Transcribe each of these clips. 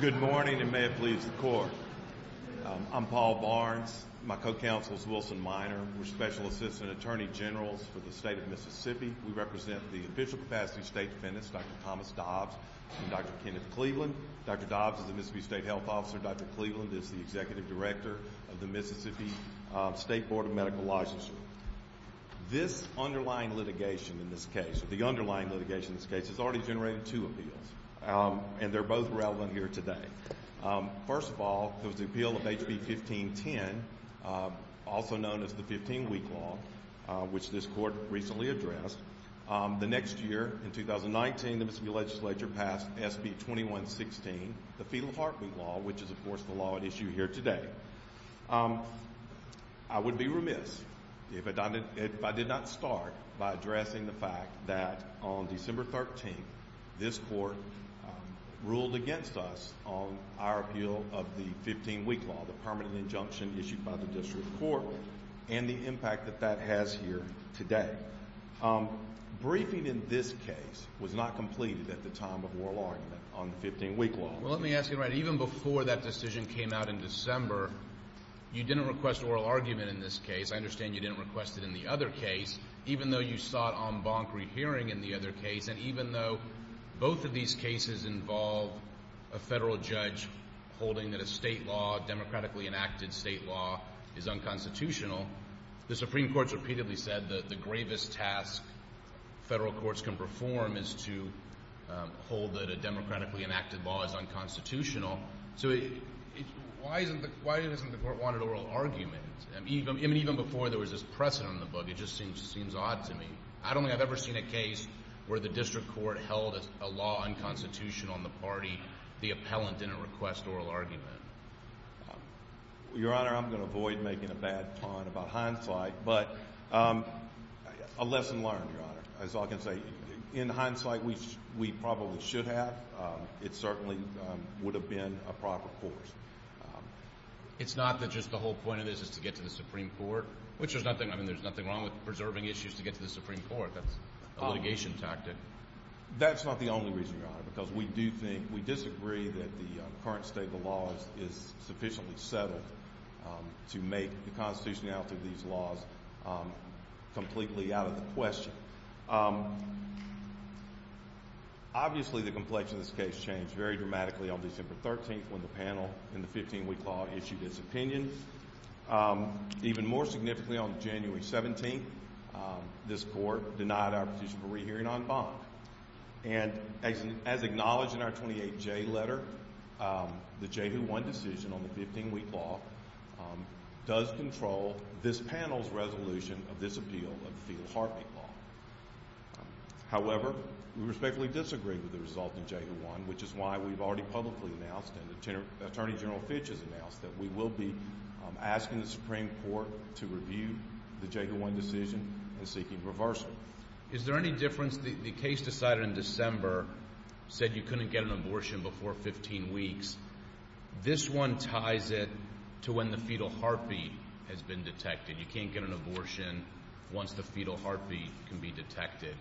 Good morning, and may it please the Court. I'm Paul Barnes, my co-counsel is Wilson Minor, we're Special Assistant Attorney Generals for the State of Mississippi. We represent the Official Capacity State Defendants, Dr. Thomas Dobbs and Dr. Kenneth Cleveland. Dr. Dobbs is the Mississippi State Health Officer, Dr. Cleveland is the Executive Director of the Mississippi State Board of Medical Licensure. This underlying litigation in this case, the underlying litigation in this case, has already generated two appeals, and they're both relevant here today. First of all, there was the appeal of HB 1510, also known as the 15-week law, which this court recently addressed. The next year, in 2019, the Mississippi Legislature passed SB 2116, the fetal heartbeat law, which is of course the law at issue here today. I would be remiss if I did not start by addressing the fact that on December 13th, this court ruled against us on our appeal of the 15-week law, the permanent injunction issued by the Supreme Court. Now, briefing in this case was not completed at the time of oral argument on the 15-week law. Well, let me ask you, even before that decision came out in December, you didn't request oral argument in this case. I understand you didn't request it in the other case, even though you sought en banc rehearing in the other case, and even though both of these cases involve a federal judge holding that a state law, democratically enacted state law, is unconstitutional, the Supreme Federal Courts can perform is to hold that a democratically enacted law is unconstitutional. So why isn't the court wanting oral argument? Even before there was this precedent in the book, it just seems odd to me. I don't think I've ever seen a case where the district court held a law unconstitutional in the party, the appellant didn't request oral argument. Your Honor, I'm going to avoid making a bad pun about hindsight, but a lesson learned, Your Honor. As I can say, in hindsight, we probably should have. It certainly would have been a proper course. It's not that just the whole point of this is to get to the Supreme Court, which there's nothing wrong with preserving issues to get to the Supreme Court, that's a litigation tactic. That's not the only reason, Your Honor, because we do think, we disagree that the current state of the law is sufficiently settled to make the constitutionality of these laws completely out of the question. Obviously the complexion of this case changed very dramatically on December 13th when the panel in the 15-week law issued its opinion. Even more significantly, on January 17th, this court denied our position for rehearing en banc. And as acknowledged in our 28J letter, the Jehu 1 decision on the 15-week law does control this panel's resolution of this appeal of the fetal heartbeat law. However, we respectfully disagree with the result of Jehu 1, which is why we've already publicly announced, and Attorney General Fitch has announced, that we will be asking the Supreme Court to review the Jehu 1 decision and seeking reversal. Is there any difference? The case decided in December said you couldn't get an abortion before 15 weeks. This one ties it to when the fetal heartbeat has been detected. You can't get an abortion once the fetal heartbeat can be detected.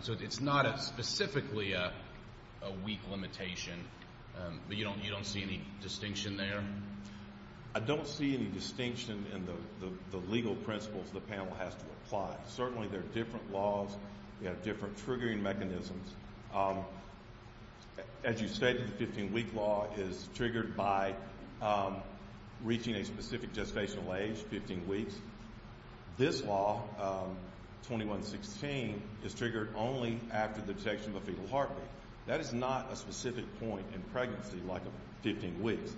So it's not specifically a weak limitation, but you don't see any distinction there? I don't see any distinction in the legal principles the panel has to apply. Certainly there are different laws, different triggering mechanisms. As you stated, the 15-week law is triggered by reaching a specific gestational age, 15 weeks. This law, 2116, is triggered only after the detection of a fetal heartbeat. That is not a specific point in pregnancy, like 15 weeks.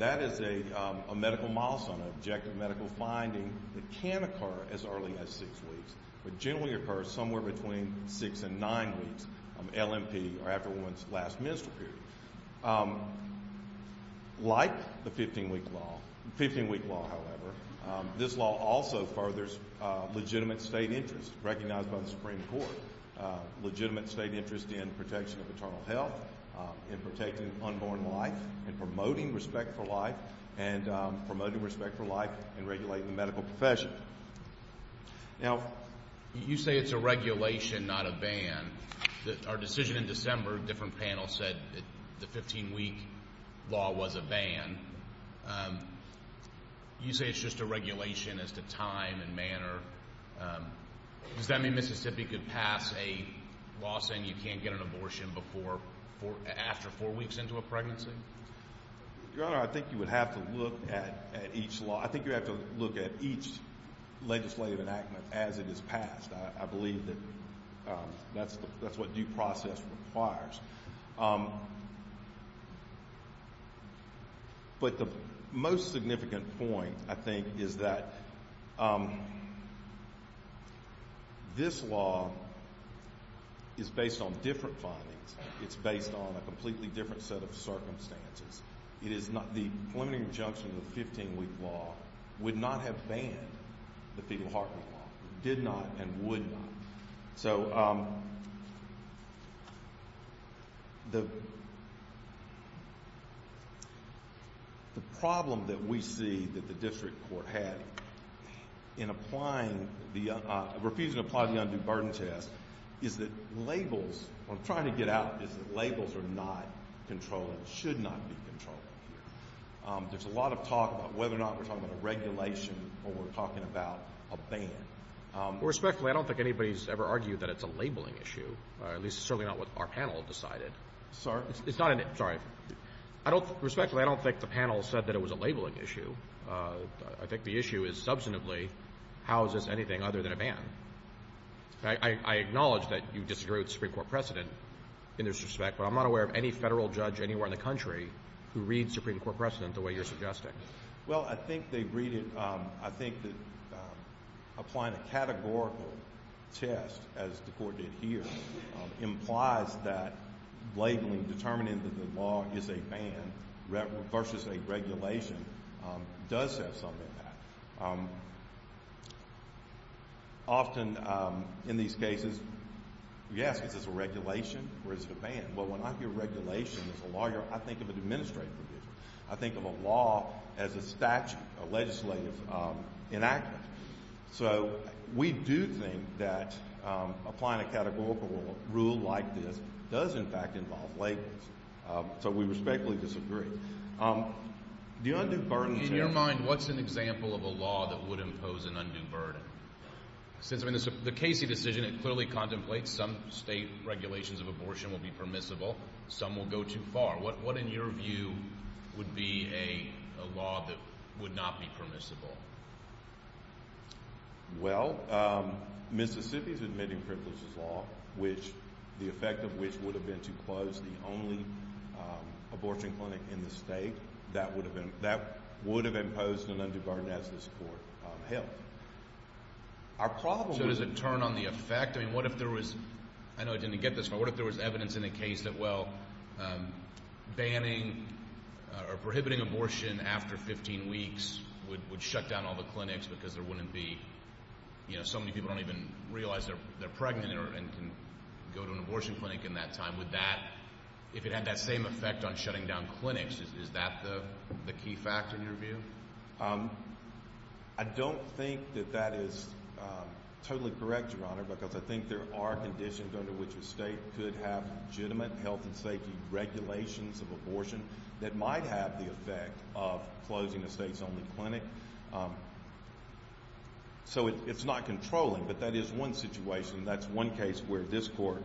That is a medical milestone, an objective medical finding that can occur as early as LMP, or after one's last menstrual period. Like the 15-week law, however, this law also furthers legitimate state interest recognized by the Supreme Court. Legitimate state interest in protection of maternal health, in protecting unborn life, in promoting respect for life, and promoting respect for life and regulating the medical profession. Now, you say it's a regulation, not a ban. Our decision in December, different panels said the 15-week law was a ban. You say it's just a regulation as to time and manner. Does that mean Mississippi could pass a law saying you can't get an abortion after four weeks into a pregnancy? Your Honor, I think you would have to look at each law. Legislative enactment, as it is passed, I believe that that's what due process requires. But the most significant point, I think, is that this law is based on different findings. It's based on a completely different set of circumstances. The preliminary injunction of the 15-week law would not have banned the fetal heartbeat law. Did not and would not. The problem that we see that the district court had in refusing to apply the undue burden test is that labels, what I'm trying to get at, is that labels are not controllable, should not be controllable. There's a lot of talk about whether or not we're talking about a regulation or we're talking about a ban. Respectfully, I don't think anybody's ever argued that it's a labeling issue, or at least certainly not what our panel decided. Sorry? It's not an, sorry. I don't, respectfully, I don't think the panel said that it was a labeling issue. I think the issue is, substantively, how is this anything other than a ban? I acknowledge that you disagree with the Supreme Court precedent in this respect, but I'm not aware of any federal judge anywhere in the country who reads Supreme Court precedent the way you're suggesting. Well, I think they read it, I think that applying a categorical test, as the Court did here, implies that labeling, determining that the law is a ban versus a regulation, does have some impact. Often, in these cases, yes, is this a regulation or is it a ban? Well, when I hear regulation as a lawyer, I think of an administrative provision. I think of a law as a statute, a legislative enactment. So we do think that applying a categorical rule like this does, in fact, involve labeling. So we respectfully disagree. The undue burden is here. In your mind, what's an example of a law that would impose an undue burden? Since, I mean, the Casey decision, it clearly contemplates some state regulations of abortion will be permissible, some will go too far. What, in your view, would be a law that would not be permissible? Well, Mississippi's admitting privileges law, which, the effect of which would have been to close the only abortion clinic in the state, that would have imposed an undue burden as this Court held. Our problem with- So does it turn on the effect? I mean, what if there was, I know I didn't get this, but what if there was evidence in a case that, well, banning or prohibiting abortion after 15 weeks would shut down all the clinics because there wouldn't be, you know, so many people don't even realize they're pregnant and can go to an abortion clinic in that time. Would that, if it had that same effect on shutting down clinics, is that the key factor in your view? I don't think that that is totally correct, Your Honor, because I think there are conditions under which a state could have legitimate health and safety regulations of abortion that might have the effect of closing a state's only clinic. So it's not controlling, but that is one situation, that's one case where this Court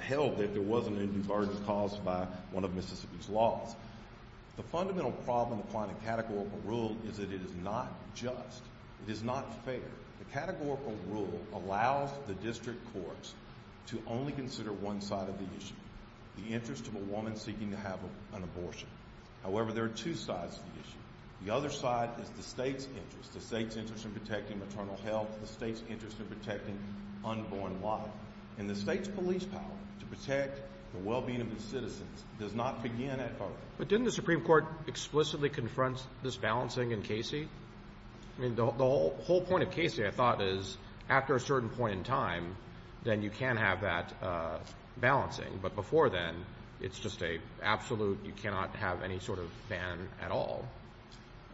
held that there was an undue burden caused by one of Mississippi's laws. The fundamental problem applying the categorical rule is that it is not just, it is not fair. The categorical rule allows the District Courts to only consider one side of the issue, the interest of a woman seeking to have an abortion. However, there are two sides to the issue. The other side is the state's interest, the state's interest in protecting maternal health, the state's interest in protecting unborn life, and the state's police power to protect the well-being of its citizens does not begin at first. But didn't the Supreme Court explicitly confront this balancing in Casey? I mean, the whole point of Casey, I thought, is after a certain point in time, then you can have that balancing, but before then, it's just an absolute, you cannot have any sort of ban at all.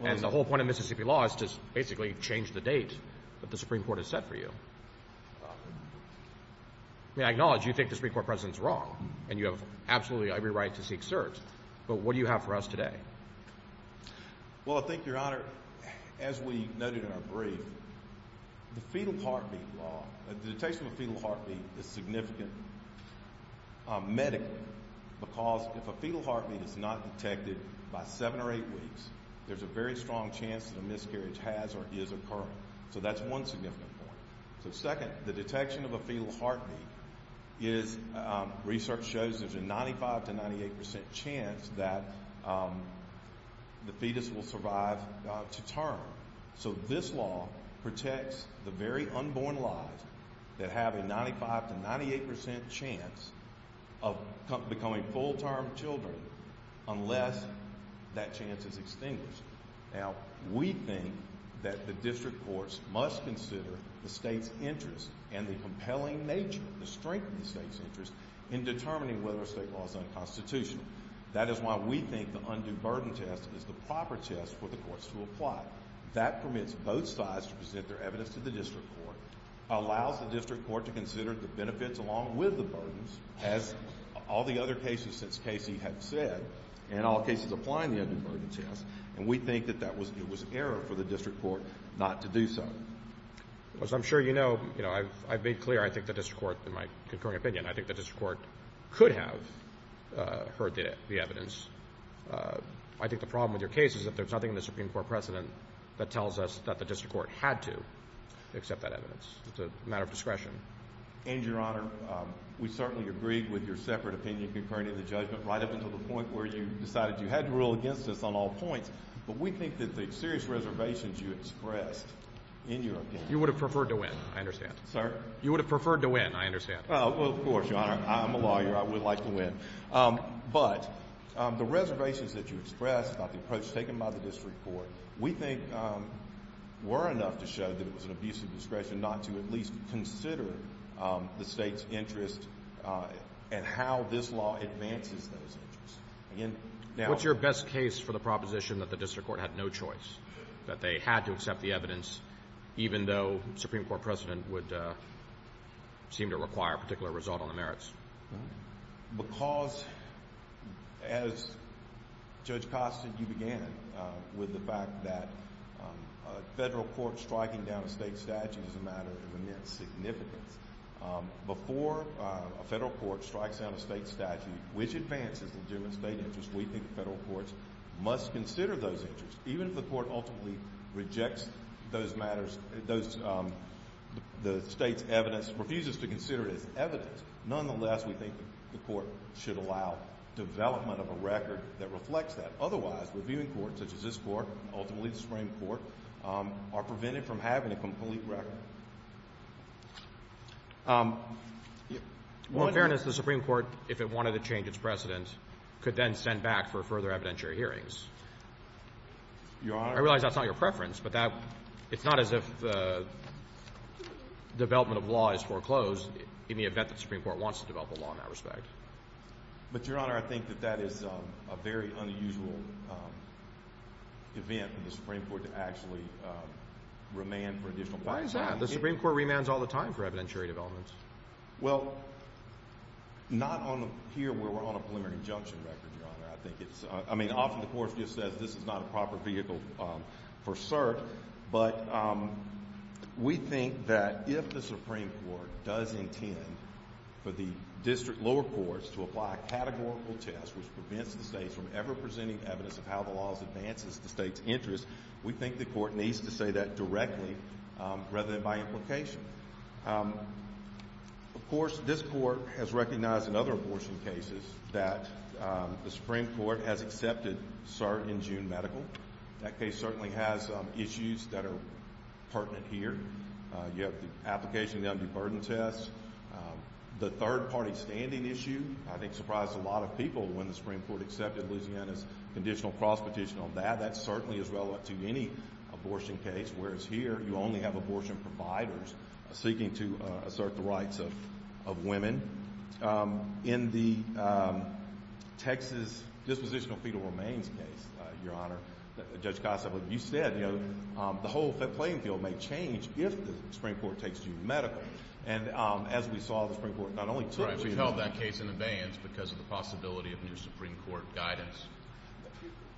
And the whole point of Mississippi law is to basically change the date that the Supreme Court has set for you. I mean, I acknowledge you think the Supreme Court President is wrong, and you have absolutely every right to seek cert, but what do you have for us today? Well, I think, Your Honor, as we noted in our brief, the fetal heartbeat law, the detection of a fetal heartbeat is significant medically, because if a fetal heartbeat is not detected by seven or eight weeks, there's a very strong chance that a miscarriage has or is occurring. So that's one significant point. So second, the detection of a fetal heartbeat is, research shows there's a 95 to 98% chance that the fetus will survive to term. So this law protects the very unborn lives that have a 95 to 98% chance of becoming full-term children unless that chance is extinguished. Now, we think that the district courts must consider the state's interest and the compelling nature, the strength of the state's interest in determining whether a state law is unconstitutional. That is why we think the undue burden test is the proper test for the courts to apply. That permits both sides to present their evidence to the district court, allows the district court to consider the benefits along with the burdens, as all the other cases since the district court. We think that that was an error for the district court not to do so. As I'm sure you know, I've made clear I think the district court, in my concurring opinion, I think the district court could have heard the evidence. I think the problem with your case is that there's nothing in the Supreme Court precedent that tells us that the district court had to accept that evidence. It's a matter of discretion. And Your Honor, we certainly agree with your separate opinion concerning the judgment right up until the point where you decided you had to rule against us on all points, but we think that the serious reservations you expressed in your opinion. You would have preferred to win. I understand. Sir? You would have preferred to win. I understand. Well, of course, Your Honor. I'm a lawyer. I would like to win. But the reservations that you expressed about the approach taken by the district court, we think were enough to show that it was an abuse of discretion not to at least consider the state's interest and how this law advances those interests. What's your best case for the proposition that the district court had no choice, that they had to accept the evidence even though the Supreme Court precedent would seem to require a particular result on the merits? Because as Judge Costin, you began with the fact that federal court striking down a state statute is a matter of immense significance. Before a federal court strikes down a state statute which advances legitimate state interest, we think federal courts must consider those interests. Even if the court ultimately rejects those matters, the state's evidence, refuses to consider it as evidence, nonetheless, we think the court should allow development of a record that reflects that. Otherwise, reviewing courts such as this court, ultimately the Supreme Court, are prevented from having a complete record. Well, in fairness, the Supreme Court, if it wanted to change its precedent, could then send back for further evidentiary hearings. Your Honor? I realize that's not your preference, but it's not as if the development of law is foreclosed in the event that the Supreme Court wants to develop a law in that respect. But Your Honor, I think that that is a very unusual event for the Supreme Court to actually remand for additional time. Why is that? The Supreme Court remands all the time for evidentiary developments. Well, not here where we're on a preliminary injunction record, Your Honor. I mean, often the court just says this is not a proper vehicle for cert, but we think that if the Supreme Court does intend for the district lower courts to apply a categorical test which prevents the states from ever presenting evidence of how the law advances the state's court needs to say that directly rather than by implication. Of course, this court has recognized in other abortion cases that the Supreme Court has accepted cert in June medical. That case certainly has issues that are pertinent here. You have the application of the undue burden test. The third-party standing issue, I think, surprised a lot of people when the Supreme Court accepted Louisiana's conditional cross-petition on that. That certainly is relevant to any abortion case, whereas here you only have abortion providers seeking to assert the rights of women. In the Texas dispositional fetal remains case, Your Honor, Judge Gossett, you said, you know, the whole playing field may change if the Supreme Court takes June medical. And as we saw, the Supreme Court not only took June medical. Right. We've held that case in abeyance because of the possibility of new Supreme Court guidance.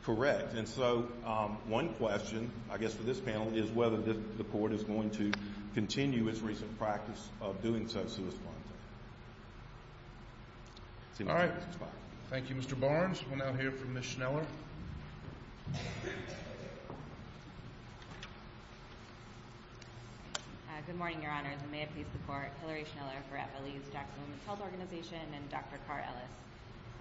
Correct. Correct. And so one question, I guess, for this panel is whether the court is going to continue its recent practice of doing so, so as to respond to that. All right. Thank you, Mr. Barnes. We'll now hear from Ms. Schneller. Good morning, Your Honors. May it please the Court, Hillary Schneller for FLE's Jackson Women's Health Organization and Dr. Carr-Ellis.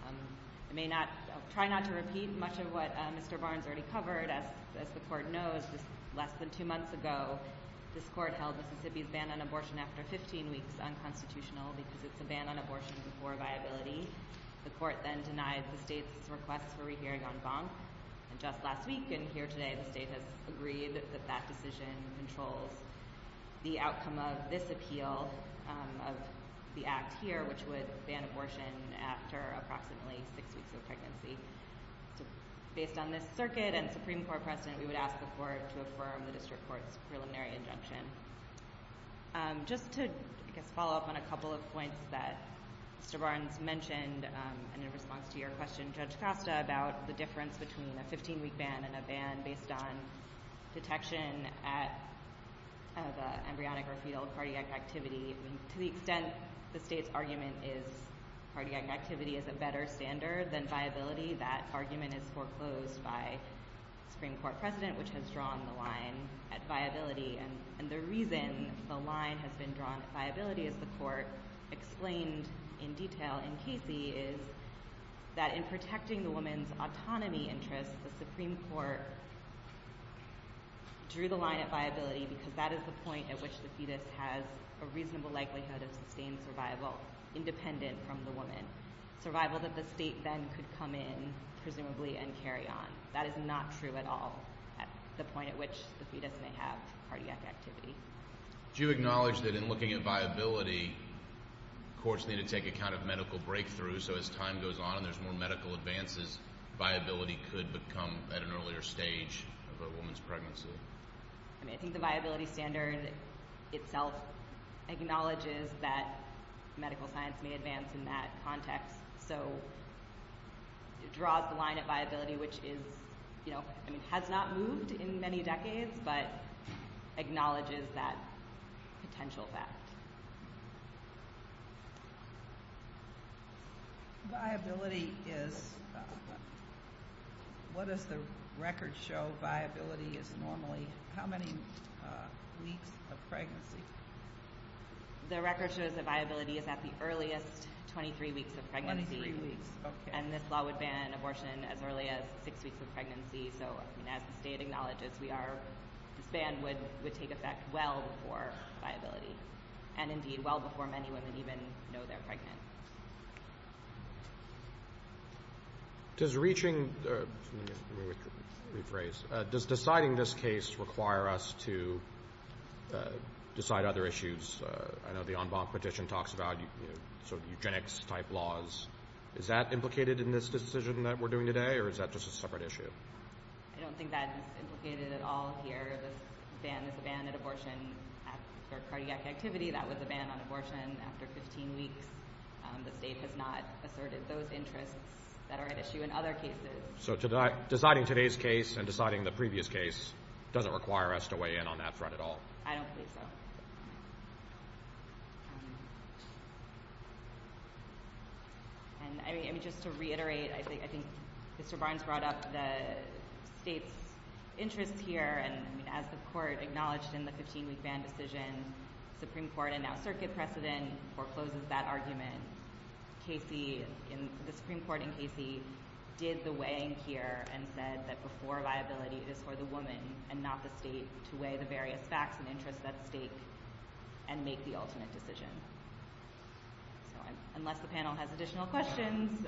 I may not, I'll try not to repeat much of what Mr. Barnes already covered, as the Court knows, just less than two months ago, this Court held Mississippi's ban on abortion after 15 weeks unconstitutional because it's a ban on abortion for viability. The Court then denied the state's request for a re-hearing on Bonk, and just last week and here today, the state has agreed that that decision controls the outcome of this court's preliminary injunction after approximately six weeks of pregnancy. Based on this circuit and Supreme Court precedent, we would ask the Court to affirm the district court's preliminary injunction. Just to, I guess, follow up on a couple of points that Mr. Barnes mentioned, and in response to your question, Judge Costa, about the difference between a 15-week ban and a ban based on detection at the embryonic or fetal cardiac activity, I mean, to the extent the state's argument is cardiac activity is a better standard than viability, that argument is foreclosed by Supreme Court precedent, which has drawn the line at viability, and the reason the line has been drawn at viability, as the Court explained in detail in Casey, is that in protecting the woman's autonomy interests, the Supreme Court drew the line at viability because that is the point at which the fetus has a reasonable likelihood of sustained survival, independent from the woman, survival that the state then could come in, presumably, and carry on. That is not true at all, at the point at which the fetus may have cardiac activity. Do you acknowledge that in looking at viability, courts need to take account of medical breakthroughs, so as time goes on and there's more medical advances, viability could become at an earlier stage of a woman's pregnancy? I mean, I think the viability standard itself acknowledges that medical science may advance in that context, so it draws the line at viability, which is, you know, I mean, has not moved in many decades, but acknowledges that potential fact. Viability is, what does the record show viability is normally, how many weeks of pregnancy? The record shows that viability is at the earliest, 23 weeks of pregnancy, and this law would ban abortion as early as six weeks of pregnancy, so as the state acknowledges, we are, this ban would take effect well before viability, and indeed well before many women even know they're pregnant. Does reaching, let me rephrase, does deciding this case require us to decide other issues? I know the en banc petition talks about sort of eugenics-type laws. Is that implicated in this decision that we're doing today, or is that just a separate issue? I don't think that's implicated at all here. This ban is a ban on abortion for cardiac activity. That was a ban on abortion after 15 weeks. The state has not asserted those interests that are at issue in other cases. So deciding today's case and deciding the previous case doesn't require us to weigh in on that threat at all? I don't believe so. And, I mean, just to reiterate, I think Mr. Barnes brought up the state's interests here, and, I mean, as the court acknowledged in the 15-week ban decision, the Supreme Court, and now circuit precedent forecloses that argument. Casey, the Supreme Court in Casey, did the weighing here and said that before viability, it is for the woman and not the state to weigh the various facts and interests at stake and make the alternate decision. So unless the panel has additional questions,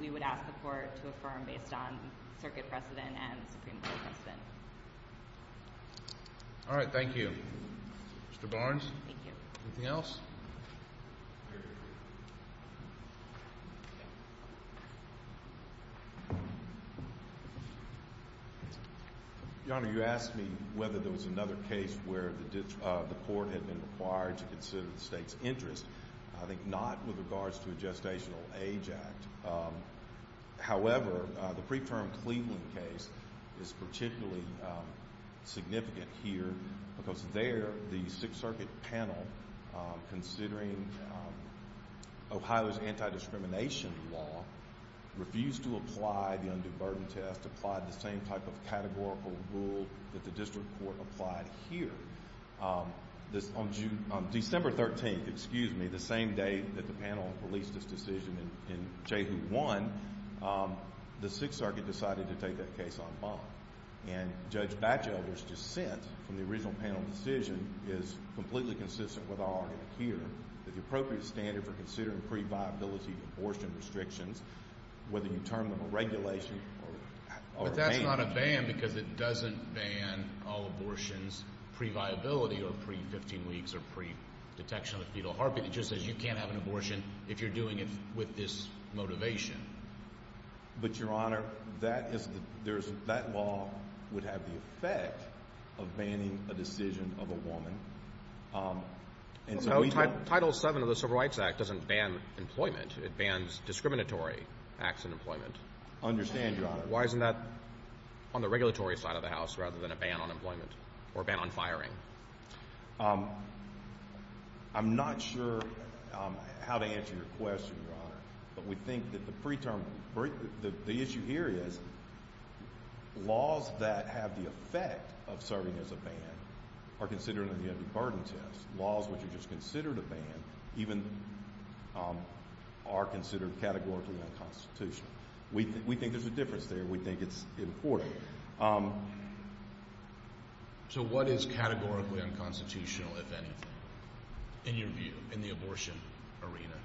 we would ask the court to affirm based on circuit precedent and Supreme Court precedent. All right, thank you. Mr. Barnes? Thank you. Anything else? Very briefly. Your Honor, you asked me whether there was another case where the court had been required to consider the state's interest. I think not with regards to a gestational age act. However, the pre-term Cleveland case is particularly significant here because there the Sixth Circuit panel, considering Ohio's anti-discrimination law, refused to apply the undue burden test, applied the same type of categorical rule that the district court applied here. On December 13th, excuse me, the same day that the panel released its decision in JAHU 1, the Sixth Circuit decided to take that case on bond. And Judge Bachelder's dissent from the original panel decision is completely consistent with our argument here that the appropriate standard for considering pre-viability abortion restrictions, whether you term them a regulation or a ban. But that's not a ban because it doesn't ban all abortions pre-viability or pre-15 weeks or pre-detection of the fetal heartbeat. It just says you can't have an abortion if you're doing it with this motivation. But, Your Honor, that law would have the effect of banning a decision of a woman. Title VII of the Civil Rights Act doesn't ban employment. It bans discriminatory acts in employment. I understand, Your Honor. Why isn't that on the regulatory side of the House rather than a ban on employment or a ban on firing? I'm not sure how to answer your question, Your Honor. But we think that the issue here is laws that have the effect of serving as a ban are considered under the heavy burden test. Laws which are just considered a ban even are considered categorically unconstitutional. We think there's a difference there. We think it's important. So what is categorically unconstitutional, if anything, in your view in the abortion arena?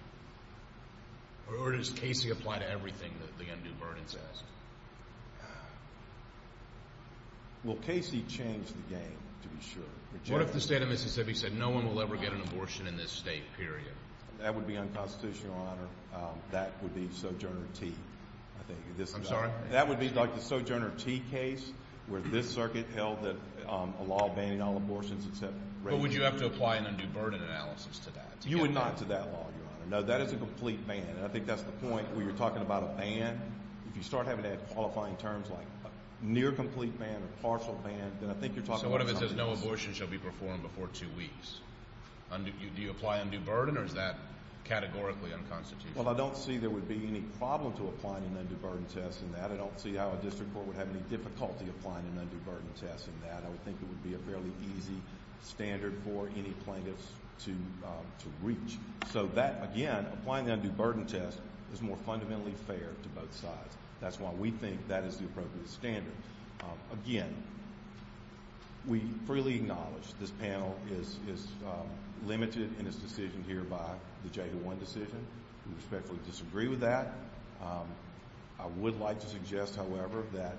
Or does Casey apply to everything that the undue burden says? Well, Casey changed the game, to be sure. What if the state of Mississippi said no one will ever get an abortion in this state, period? That would be unconstitutional, Your Honor. That would be Sojourner Tee, I think. I'm sorry? That would be like the Sojourner Tee case where this circuit held that a law banning all abortions except rape. But would you have to apply an undue burden analysis to that? You would not to that law, Your Honor. No, that is a complete ban. And I think that's the point where you're talking about a ban. If you start having to add qualifying terms like near-complete ban or partial ban, then I think you're talking about something else. So what if it says no abortion shall be performed before two weeks? Do you apply undue burden, or is that categorically unconstitutional? Well, I don't see there would be any problem to apply an undue burden test in that. I don't see how a district court would have any difficulty applying an undue burden test in that. I would think it would be a fairly easy standard for any plaintiffs to reach. So that, again, applying the undue burden test is more fundamentally fair to both sides. That's why we think that is the appropriate standard. Again, we freely acknowledge this panel is limited in its decision here by the J01 decision. We respectfully disagree with that. I would like to suggest, however, that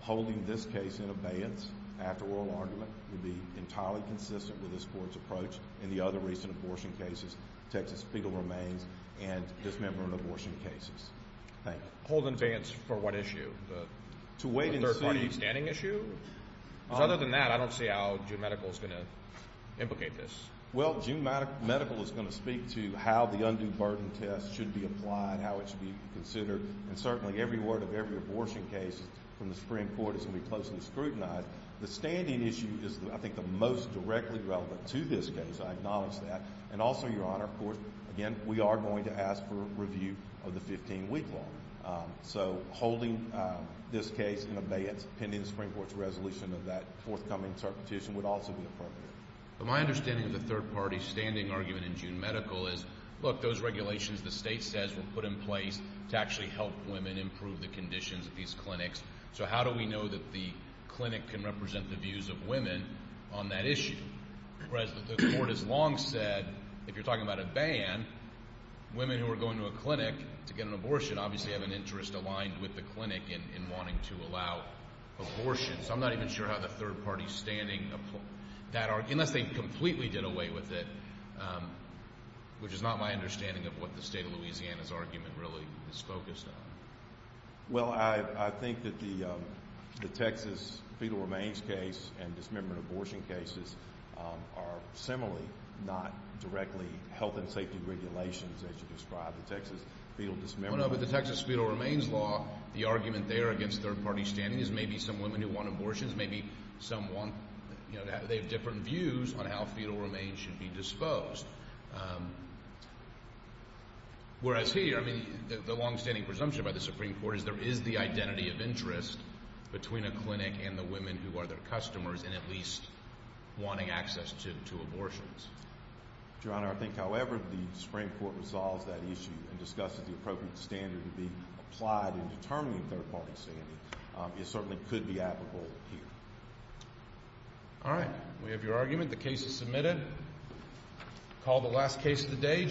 holding this case in abeyance after oral argument would be entirely consistent with this Court's approach in the other recent abortion cases, Texas Fetal Remains and dismemberment abortion cases. Thank you. Hold in abeyance for what issue, the third-party standing issue? Because other than that, I don't see how June Medical is going to implicate this. Well, June Medical is going to speak to how the undue burden test should be applied, how it should be considered. And certainly every word of every abortion case from the Supreme Court is going to be closely scrutinized. The standing issue is, I think, the most directly relevant to this case. I acknowledge that. And also, Your Honor, of course, again, we are going to ask for review of the 15-week law. So holding this case in abeyance pending the Supreme Court's resolution of that forthcoming interpretation would also be appropriate. But my understanding of the third-party standing argument in June Medical is, look, those regulations, the state says, were put in place to actually help women improve the conditions of these clinics. So how do we know that the clinic can represent the views of women on that issue? Whereas the Court has long said, if you're talking about a ban, women who are going to a clinic to get an abortion obviously have an interest aligned with the clinic in wanting to allow abortion. So I'm not even sure how the third-party standing, unless they completely did away with it, which is not my understanding of what the state of Louisiana's argument really is focused on. Well, I think that the Texas fetal remains case and dismemberment abortion cases are similarly not directly health and safety regulations, as you describe the Texas fetal dismemberment law. No, no, but the Texas fetal remains law, the argument there against third-party standing is maybe some women who want abortions, maybe some want – they have different views on how fetal remains should be disposed. Whereas here, I mean, the longstanding presumption by the Supreme Court is there is the identity of interest between a clinic and the women who are their customers in at least wanting access to abortions. Your Honor, I think however the Supreme Court resolves that issue and discusses the appropriate standard to be applied in determining third-party standing, it certainly could be applicable here. All right. We have your argument. The case is submitted. Call the last case of the day.